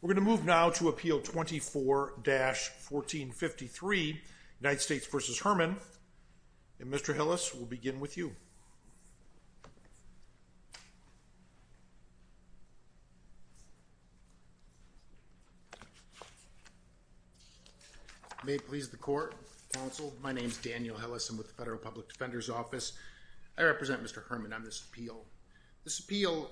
We're going to move now to Appeal 24-1453, United States v. Herman, and Mr. Hillis, we'll begin with you. May it please the Court, Counsel, my name is Daniel Hillis, I'm with the Federal Public Defender's Office, I represent Mr. Herman on this appeal. This appeal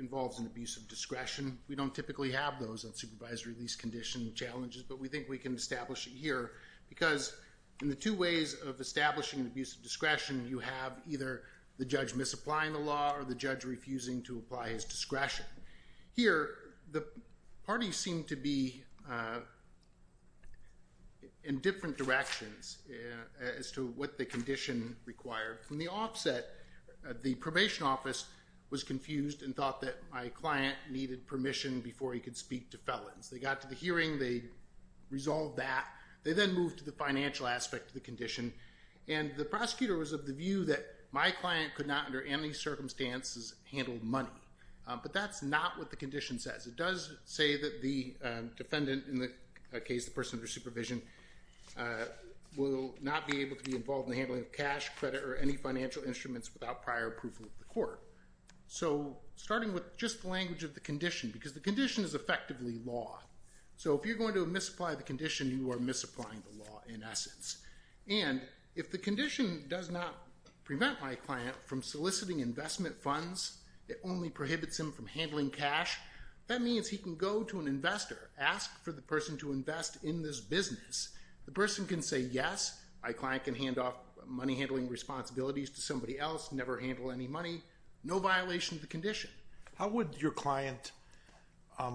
involves an abuse of discretion, we don't typically have those on supervised release condition challenges, but we think we can establish it here because in the two ways of establishing an abuse of discretion, you have either the judge misapplying the law or the judge refusing to apply his discretion. Here the parties seem to be in different directions as to what the condition required. From the offset, the probation office was confused and thought that my client needed permission before he could speak to felons. They got to the hearing, they resolved that, they then moved to the financial aspect of the condition, and the prosecutor was of the view that my client could not under any circumstances handle money. But that's not what the condition says. It does say that the defendant, in the case of the person under supervision, will not be able to be involved in the handling of cash, credit, or any financial instruments without prior approval of the court. So starting with just the language of the condition, because the condition is effectively law. So if you're going to misapply the condition, you are misapplying the law in essence. And if the condition does not prevent my client from soliciting investment funds, it only prohibits him from handling cash, that means he can go to an investor, ask for the person to invest in this business, the person can say yes, my client can hand off money handling responsibilities to somebody else, never handle any money, no violation of the condition. How would your client,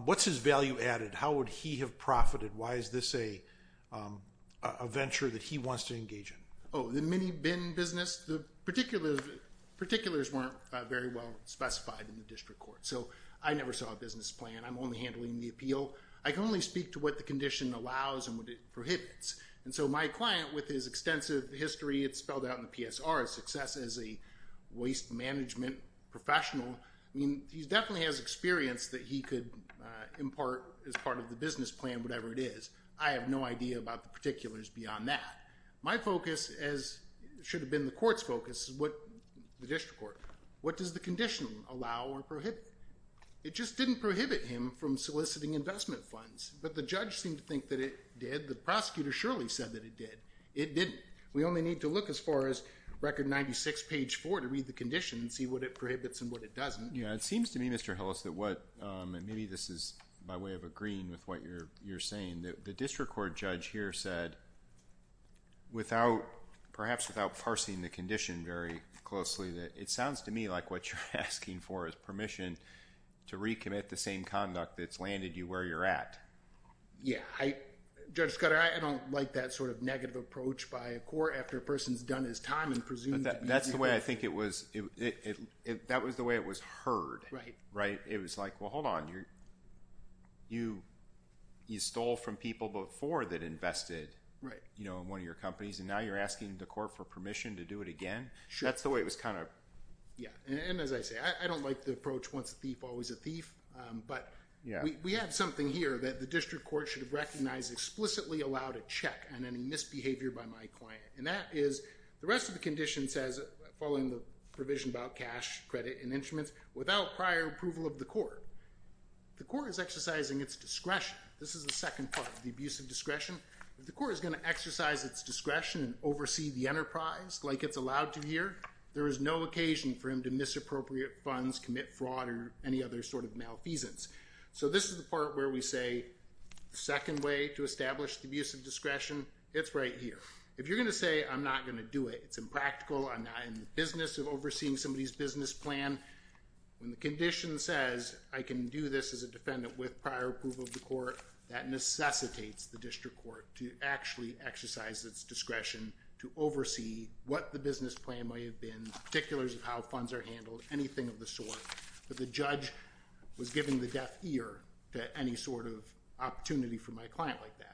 what's his value added? How would he have profited? Why is this a venture that he wants to engage in? Oh, the mini-bin business? The particulars weren't very well specified in the district court. So I never saw a business plan, I'm only handling the appeal. I can only speak to what the condition allows and what it prohibits. And so my client, with his extensive history, it's spelled out in the PSR, his success as a waste management professional, I mean, he definitely has experience that he could impart as part of the business plan, whatever it is. I have no idea about the particulars beyond that. My focus, as should have been the court's focus, the district court, what does the condition allow or prohibit? It just didn't prohibit him from soliciting investment funds. But the judge seemed to think that it did, the prosecutor surely said that it did. It didn't. We only need to look as far as record 96 page 4 to read the condition and see what it prohibits and what it doesn't. Yeah, it seems to me, Mr. Hillis, that what, and maybe this is by way of agreeing with what you're saying, the district court judge here said, without, perhaps without parsing the condition very closely, that it sounds to me like what you're asking for is permission to recommit the same conduct that's landed you where you're at. Yeah, I, Judge Scudder, I don't like that sort of negative approach by a court after a person's done his time and presumes to be- That's the way I think it was, that was the way it was heard, right? It was like, well, hold on, you stole from people before that invested in one of your companies and now you're asking the court for permission to do it again? That's the way it was kind of- Yeah. And as I say, I don't like the approach, once a thief, always a thief, but we have something here that the district court should have recognized explicitly allowed a check on any misbehavior by my client. And that is, the rest of the condition says, following the provision about cash, credit, and instruments, without prior approval of the court, the court is exercising its discretion. This is the second part, the abuse of discretion. If the court is going to exercise its discretion and oversee the enterprise like it's allowed to here, there is no occasion for him to misappropriate funds, commit fraud, or any other sort of malfeasance. So this is the part where we say, the second way to establish the abuse of discretion, it's right here. If you're going to say, I'm not going to do it, it's impractical, I'm not in the business of overseeing somebody's business plan, when the condition says, I can do this as a defendant with prior approval of the court, that necessitates the district court to actually exercise its discretion to oversee what the business plan might have been, particulars of how funds are handled, anything of the sort, that the judge was giving the deaf ear to any sort of opportunity for my client like that.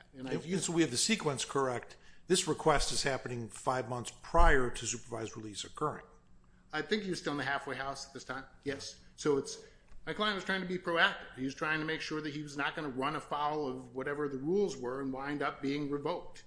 So we have the sequence correct. This request is happening five months prior to supervised release occurring. I think he was still in the halfway house at this time, yes. So it's, my client was trying to be proactive, he was trying to make sure that he was not going to run afoul of whatever the rules were and wind up being revoked.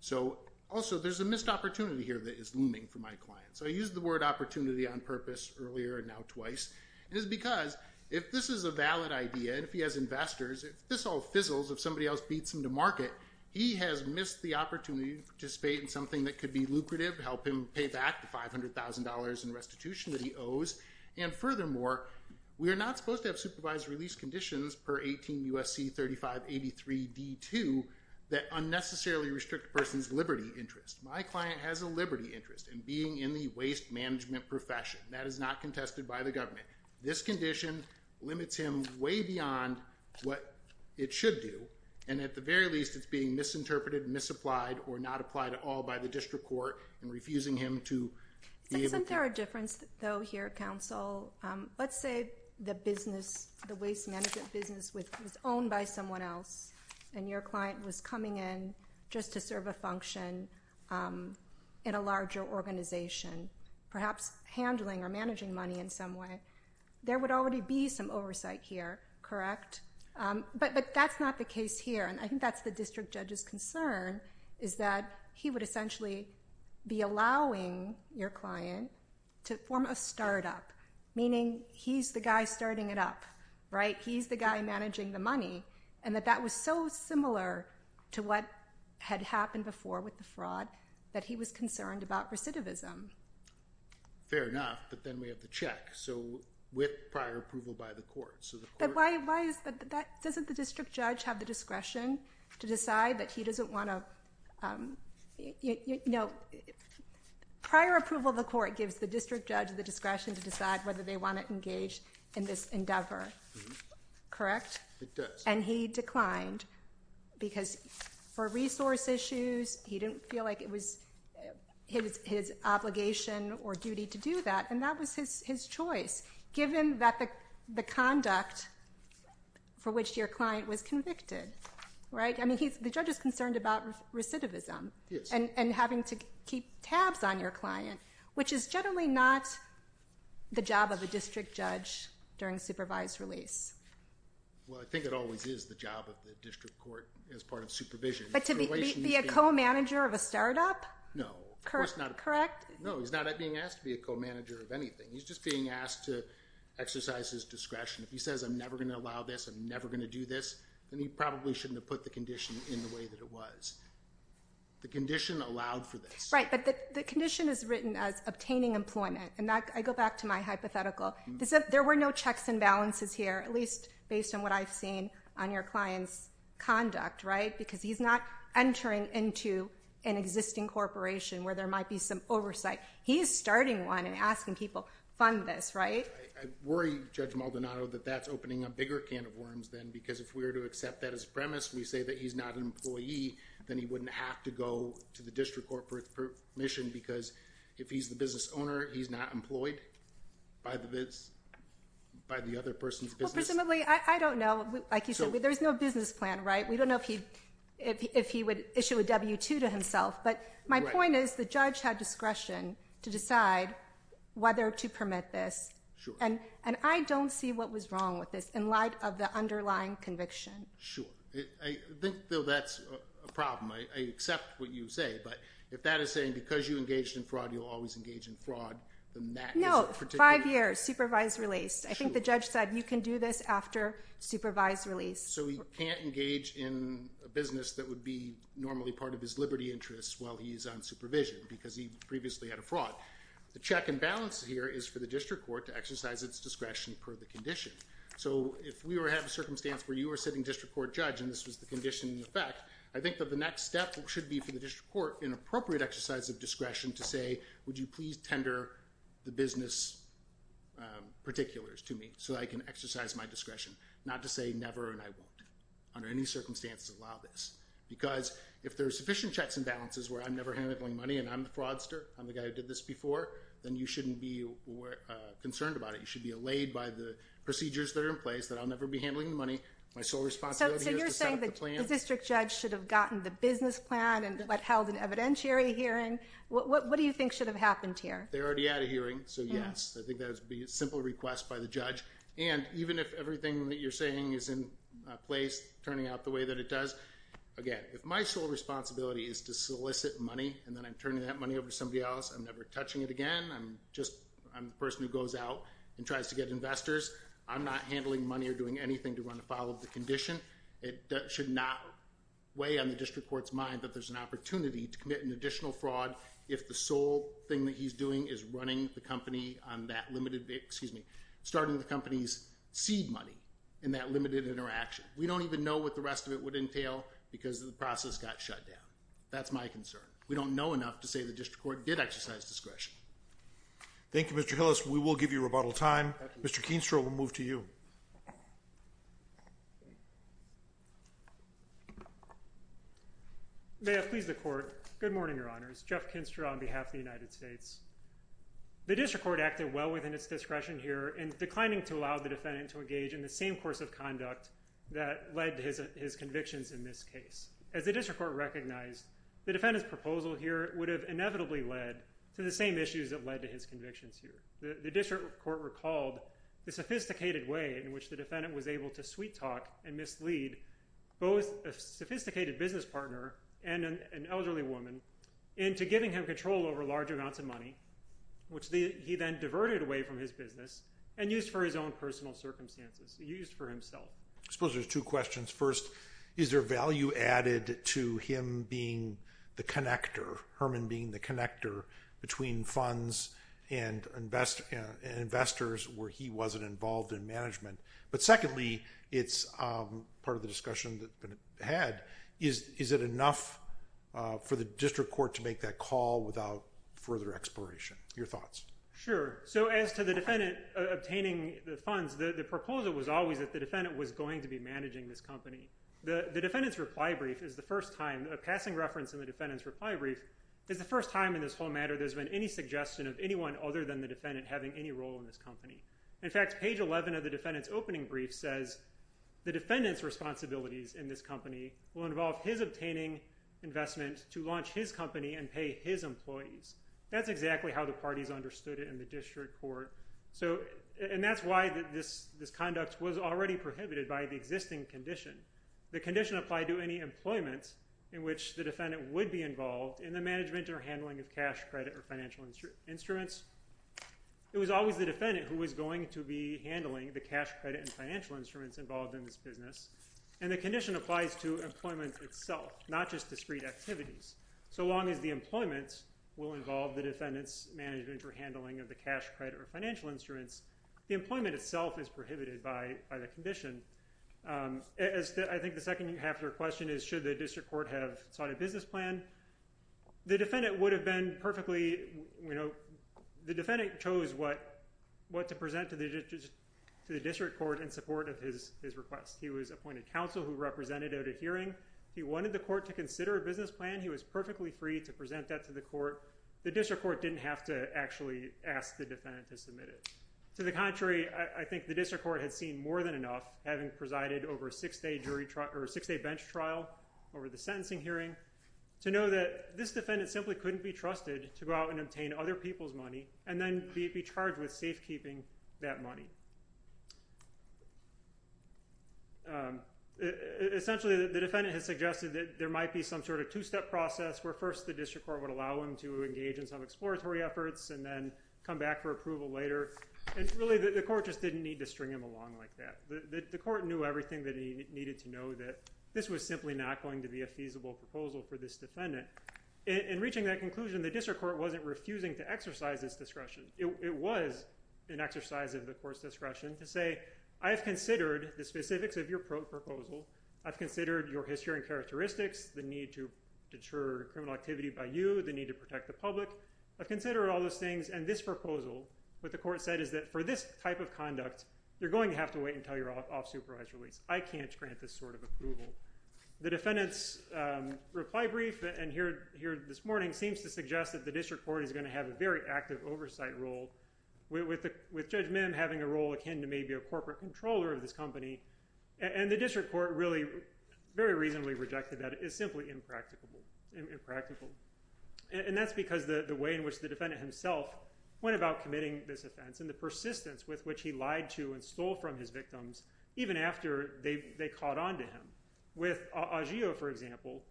So also, there's a missed opportunity here that is looming for my client. So I used the word opportunity on purpose earlier and now twice, and it's because if this is a valid idea and if he has investors, if this all fizzles, if somebody else beats him to market, he has missed the opportunity to participate in something that could be lucrative, help him pay back the $500,000 in restitution that he owes, and furthermore, we are not supposed to have supervised release conditions per 18 U.S.C. 3583 D.2 that unnecessarily restrict a person's liberty interest. My client has a liberty interest in being in the waste management profession. That is not contested by the government. This condition limits him way beyond what it should do, and at the very least, it's being misinterpreted, misapplied, or not applied at all by the district court in refusing him to be able to- Isn't there a difference though here, counsel? Let's say the business, the waste management business was owned by someone else and your client was coming in just to serve a function in a larger organization, perhaps handling or managing money in some way, there would already be some oversight here, correct? But that's not the case here, and I think that's the district judge's concern, is that he would essentially be allowing your client to form a startup, meaning he's the guy starting it up, right? He's the guy managing the money, and that that was so similar to what had happened before with the fraud that he was concerned about recidivism. Fair enough, but then we have the check, so with prior approval by the court, so the court- But why is that? Doesn't the district judge have the discretion to decide that he doesn't want to, you know, prior approval of the court gives the district judge the discretion to decide whether they want to engage in this endeavor, correct? It does. And he declined because for resource issues, he didn't feel like it was his obligation or duty to do that, and that was his choice, given that the conduct for which your client was convicted, right? I mean, the judge is concerned about recidivism and having to keep tabs on your client, which is generally not the job of a district judge during supervised release. Well, I think it always is the job of the district court as part of supervision. But to be a co-manager of a startup? No. Correct? No, he's not being asked to be a co-manager of anything. He's just being asked to exercise his discretion. If he says, I'm never going to allow this, I'm never going to do this, then he probably shouldn't have put the condition in the way that it was. The condition allowed for this. Right, but the condition is written as obtaining employment, and I go back to my hypothetical. There were no checks and balances here, at least based on what I've seen on your client's conduct, right? Because he's not entering into an existing corporation where there might be some oversight. He's starting one and asking people, fund this, right? I worry, Judge Maldonado, that that's opening a bigger can of worms then, because if we were to accept that as a premise, we say that he's not an employee, then he wouldn't have to go to the district court for permission, because if he's the business owner, he's not by the other person's business. Well, presumably, I don't know. Like you said, there's no business plan, right? We don't know if he would issue a W-2 to himself, but my point is the judge had discretion to decide whether to permit this, and I don't see what was wrong with this in light of the underlying conviction. Sure. I think, though, that's a problem. I accept what you say, but if that is saying because you engaged in fraud, you'll always engage in fraud, then that is a particular… Five years, supervised release. Sure. I think the judge said, you can do this after supervised release. So he can't engage in a business that would be normally part of his liberty interests while he's on supervision, because he previously had a fraud. The check and balance here is for the district court to exercise its discretion per the condition. So if we were to have a circumstance where you were sitting district court judge, and this was the condition in effect, I think that the next step should be for the district court in appropriate exercise of discretion to say, would you please tender the business particulars to me so that I can exercise my discretion. Not to say never and I won't. Under any circumstances, allow this. Because if there are sufficient checks and balances where I'm never handling money and I'm the fraudster, I'm the guy who did this before, then you shouldn't be concerned about it. You should be allayed by the procedures that are in place that I'll never be handling the My sole responsibility is to set up the plan. What held an evidentiary hearing. What do you think should have happened here? They already had a hearing. So yes, I think that would be a simple request by the judge. And even if everything that you're saying is in place, turning out the way that it does. Again, if my sole responsibility is to solicit money and then I'm turning that money over to somebody else, I'm never touching it again. I'm just I'm the person who goes out and tries to get investors. I'm not handling money or doing anything to run afoul of the condition. It should not weigh on the district court's mind that there's an opportunity to commit an additional fraud if the sole thing that he's doing is running the company on that limited, excuse me, starting the company's seed money in that limited interaction. We don't even know what the rest of it would entail because of the process got shut down. That's my concern. We don't know enough to say the district court did exercise discretion. Thank you, Mr. Hillis. We will give you rebuttal time. Mr. Keenstrow will move to you. May I please the court? Good morning, Your Honors. Jeff Keenstrow on behalf of the United States. The district court acted well within its discretion here in declining to allow the defendant to engage in the same course of conduct that led to his convictions in this case. As the district court recognized, the defendant's proposal here would have inevitably led to the same issues that led to his convictions here. The district court recalled the sophisticated way in which the defendant was able to sweet both a sophisticated business partner and an elderly woman into giving him control over large amounts of money, which he then diverted away from his business and used for his own personal circumstances, used for himself. I suppose there's two questions. First, is there value added to him being the connector, Herman being the connector, between funds and investors where he wasn't involved in management? But secondly, it's part of the discussion that's been had. Is it enough for the district court to make that call without further exploration? Your thoughts? Sure. As to the defendant obtaining the funds, the proposal was always that the defendant was going to be managing this company. The defendant's reply brief is the first time, a passing reference in the defendant's reply brief, is the first time in this whole matter there's been any suggestion of anyone other than the defendant having any role in this company. In fact, page 11 of the defendant's opening brief says, the defendant's responsibilities in this company will involve his obtaining investment to launch his company and pay his employees. That's exactly how the parties understood it in the district court. And that's why this conduct was already prohibited by the existing condition. The condition applied to any employment in which the defendant would be involved in the management or handling of cash, credit, or financial instruments. It was always the defendant who was going to be handling the cash, credit, and financial instruments involved in this business. And the condition applies to employment itself, not just discrete activities. So long as the employment will involve the defendant's management or handling of the cash, credit, or financial instruments, the employment itself is prohibited by the condition. I think the second half of your question is, should the district court have sought a business plan? The defendant chose what to present to the district court in support of his request. He was appointed counsel who represented at a hearing. He wanted the court to consider a business plan. He was perfectly free to present that to the court. The district court didn't have to actually ask the defendant to submit it. To the contrary, I think the district court had seen more than enough, having presided over a six-day bench trial over the sentencing hearing, to know that this defendant simply couldn't be trusted to go out and obtain other people's money and then be charged with safekeeping that money. Essentially, the defendant has suggested that there might be some sort of two-step process where first the district court would allow him to engage in some exploratory efforts and then come back for approval later. And really, the court just didn't need to string him along like that. The court knew everything that he needed to know, that this was simply not going to be a feasible proposal for this defendant. In reaching that conclusion, the district court wasn't refusing to exercise this discretion. It was an exercise of the court's discretion to say, I have considered the specifics of your proposal. I've considered your history and characteristics, the need to deter criminal activity by you, the need to protect the public. I've considered all those things. And this proposal, what the court said is that for this type of conduct, you're going to have to wait until your off-supervised release. I can't grant this sort of approval. The defendant's reply brief and here this morning seems to suggest that the district court is going to have a very active oversight role with Judge Mim having a role akin to maybe a corporate controller of this company. And the district court really very reasonably rejected that. It is simply impractical. And that's because the way in which the defendant himself went about committing this offense and the persistence with which he lied to and stole from his victims, even after they caught on to him. With Agio, for example,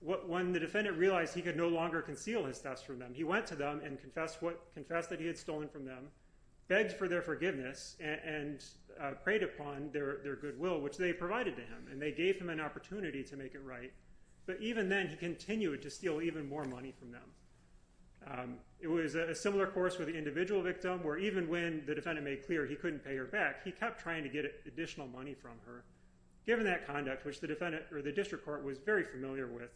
when the defendant realized he could no longer conceal his thefts from them, he went to them and confessed that he had stolen from them, begged for their forgiveness, and prayed upon their goodwill, which they provided to him. And they gave him an opportunity to make it right. But even then, he continued to steal even more money from them. It was a similar course with the individual victim, where even when the defendant made clear he couldn't pay her back, he kept trying to get additional money from her. Given that conduct, which the district court was very familiar with,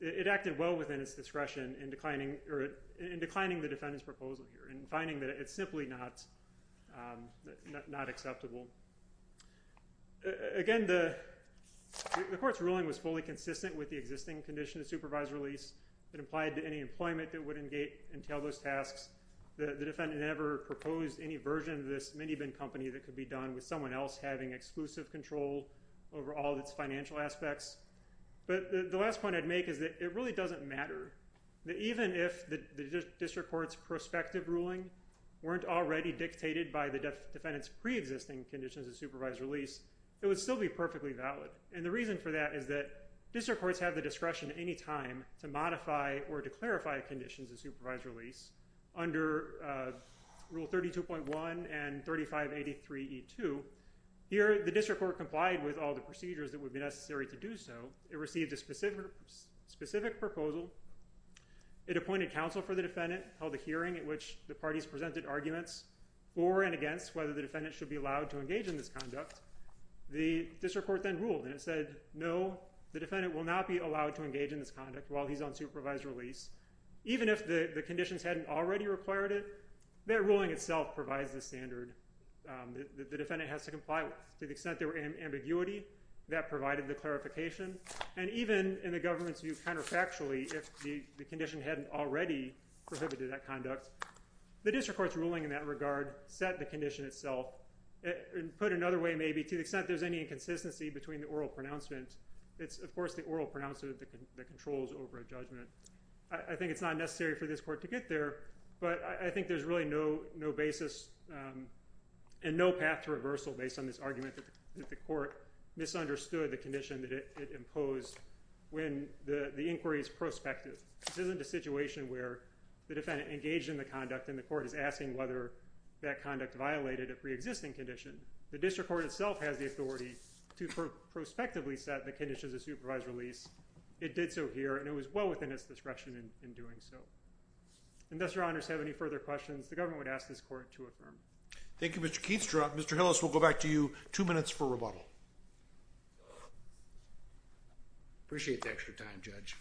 it acted well within its discretion in declining the defendant's proposal here and finding that it's simply not acceptable. Again, the court's ruling was fully consistent with the existing condition of supervised release that applied to any employment that would entail those tasks. The defendant never proposed any version of this minivan company that could be done with someone else having exclusive control over all of its financial aspects. But the last point I'd make is that it really doesn't matter. Even if the district court's prospective ruling weren't already dictated by the defendant's preexisting conditions of supervised release, it would still be perfectly valid. And the reason for that is that district courts have the discretion at any time to modify or to clarify conditions of supervised release under Rule 32.1 and 3583E2. Here, the district court complied with all the procedures that would be necessary to do so. It received a specific proposal. It appointed counsel for the defendant, held a hearing at which the parties presented arguments for and against whether the defendant should be allowed to engage in this conduct. The district court then ruled, and it said, no, the defendant will not be allowed to engage in this conduct while he's on supervised release. Even if the conditions hadn't already required it, that ruling itself provides the standard that the defendant has to comply with. To the extent there were ambiguity, that provided the clarification. And even in the government's view, counterfactually, if the condition hadn't already prohibited that conduct, the district court's ruling in that regard set the condition itself and put it another way, maybe, to the extent there's any inconsistency between the oral pronouncement. It's, of course, the oral pronouncement that controls over a judgment. I think it's not necessary for this court to get there. But I think there's really no basis and no path to reversal based on this argument that the court misunderstood the condition that it imposed when the inquiry is prospective. This isn't a situation where the defendant engaged in the conduct and the court is asking whether that conduct violated a preexisting condition. The district court itself has the authority to prospectively set the conditions of supervised release. It did so here, and it was well within its discretion in doing so. Unless your honors have any further questions, the government would ask this court to affirm. Thank you, Mr. Keats. Mr. Hillis, we'll go back to you. Two minutes for rebuttal. Appreciate the extra time, Judge.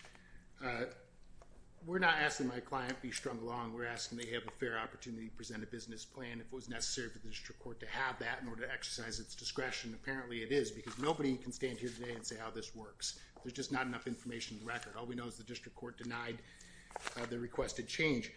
We're not asking my client be strung along. We're asking they have a fair opportunity to present a business plan if it was necessary for the district court to have that in order to exercise its discretion. Apparently it is, because nobody can stand here today and say how this works. There's just not enough information in the record. All we know is the district court denied the request to change.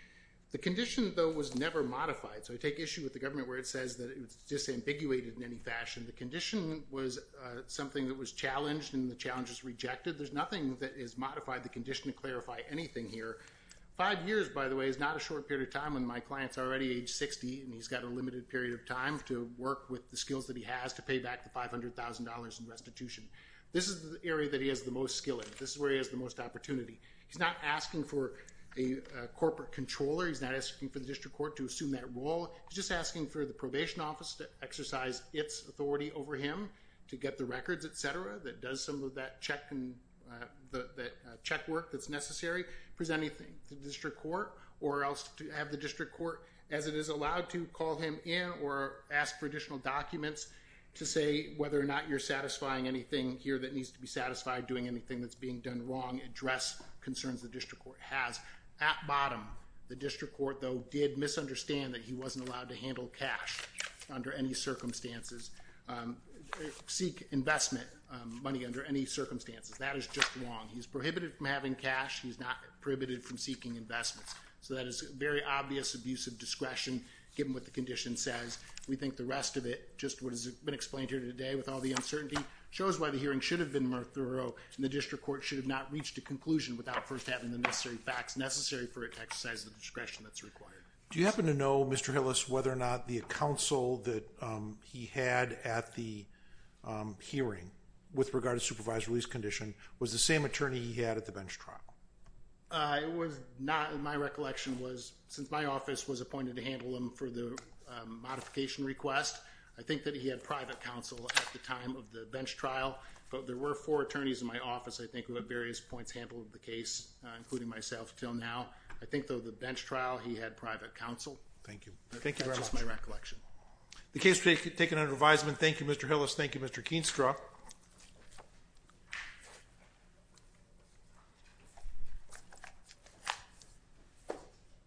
The condition, though, was never modified. So I take issue with the government where it says that it was disambiguated in any fashion. The condition was something that was challenged, and the challenge was rejected. There's nothing that is modified in the condition to clarify anything here. Five years, by the way, is not a short period of time when my client's already age 60, and he's got a limited period of time to work with the skills that he has to pay back the $500,000 in restitution. This is the area that he has the most skill in. This is where he has the most opportunity. He's not asking for a corporate controller. He's not asking for the district court to assume that role. He's just asking for the probation office to exercise its authority over him to get the records, etc., that does some of that check work that's necessary, present anything to the district court, or else to have the district court, as it is allowed to, call him in or ask for additional documents to say whether or not you're satisfying anything here that needs to be satisfied, doing anything that's being done wrong, address concerns the district court has. At bottom, the district court, though, did misunderstand that he wasn't allowed to handle cash under any circumstances, seek investment money under any circumstances. That is just wrong. He's prohibited from having cash. He's not prohibited from seeking investments. So that is very obvious abuse of discretion given what the condition says. We think the rest of it, just what has been explained here today with all the uncertainty, shows why the hearing should have been more thorough, and the district court should have not reached a conclusion without first having the necessary facts necessary for it to exercise the discretion that's required. Do you happen to know, Mr. Hillis, whether or not the counsel that he had at the hearing with regard to supervised release condition was the same attorney he had at the bench trial? It was not. My recollection was, since my office was appointed to handle him for the modification request, I think that he had private counsel at the time of the bench trial. But there were four attorneys in my office, I think, who at various points handled the case, including myself until now. I think, though, the bench trial, he had private counsel. Thank you. That's just my recollection. The case is taken under advisement. Thank you, Mr. Hillis. Thank you, Mr. Keenstra.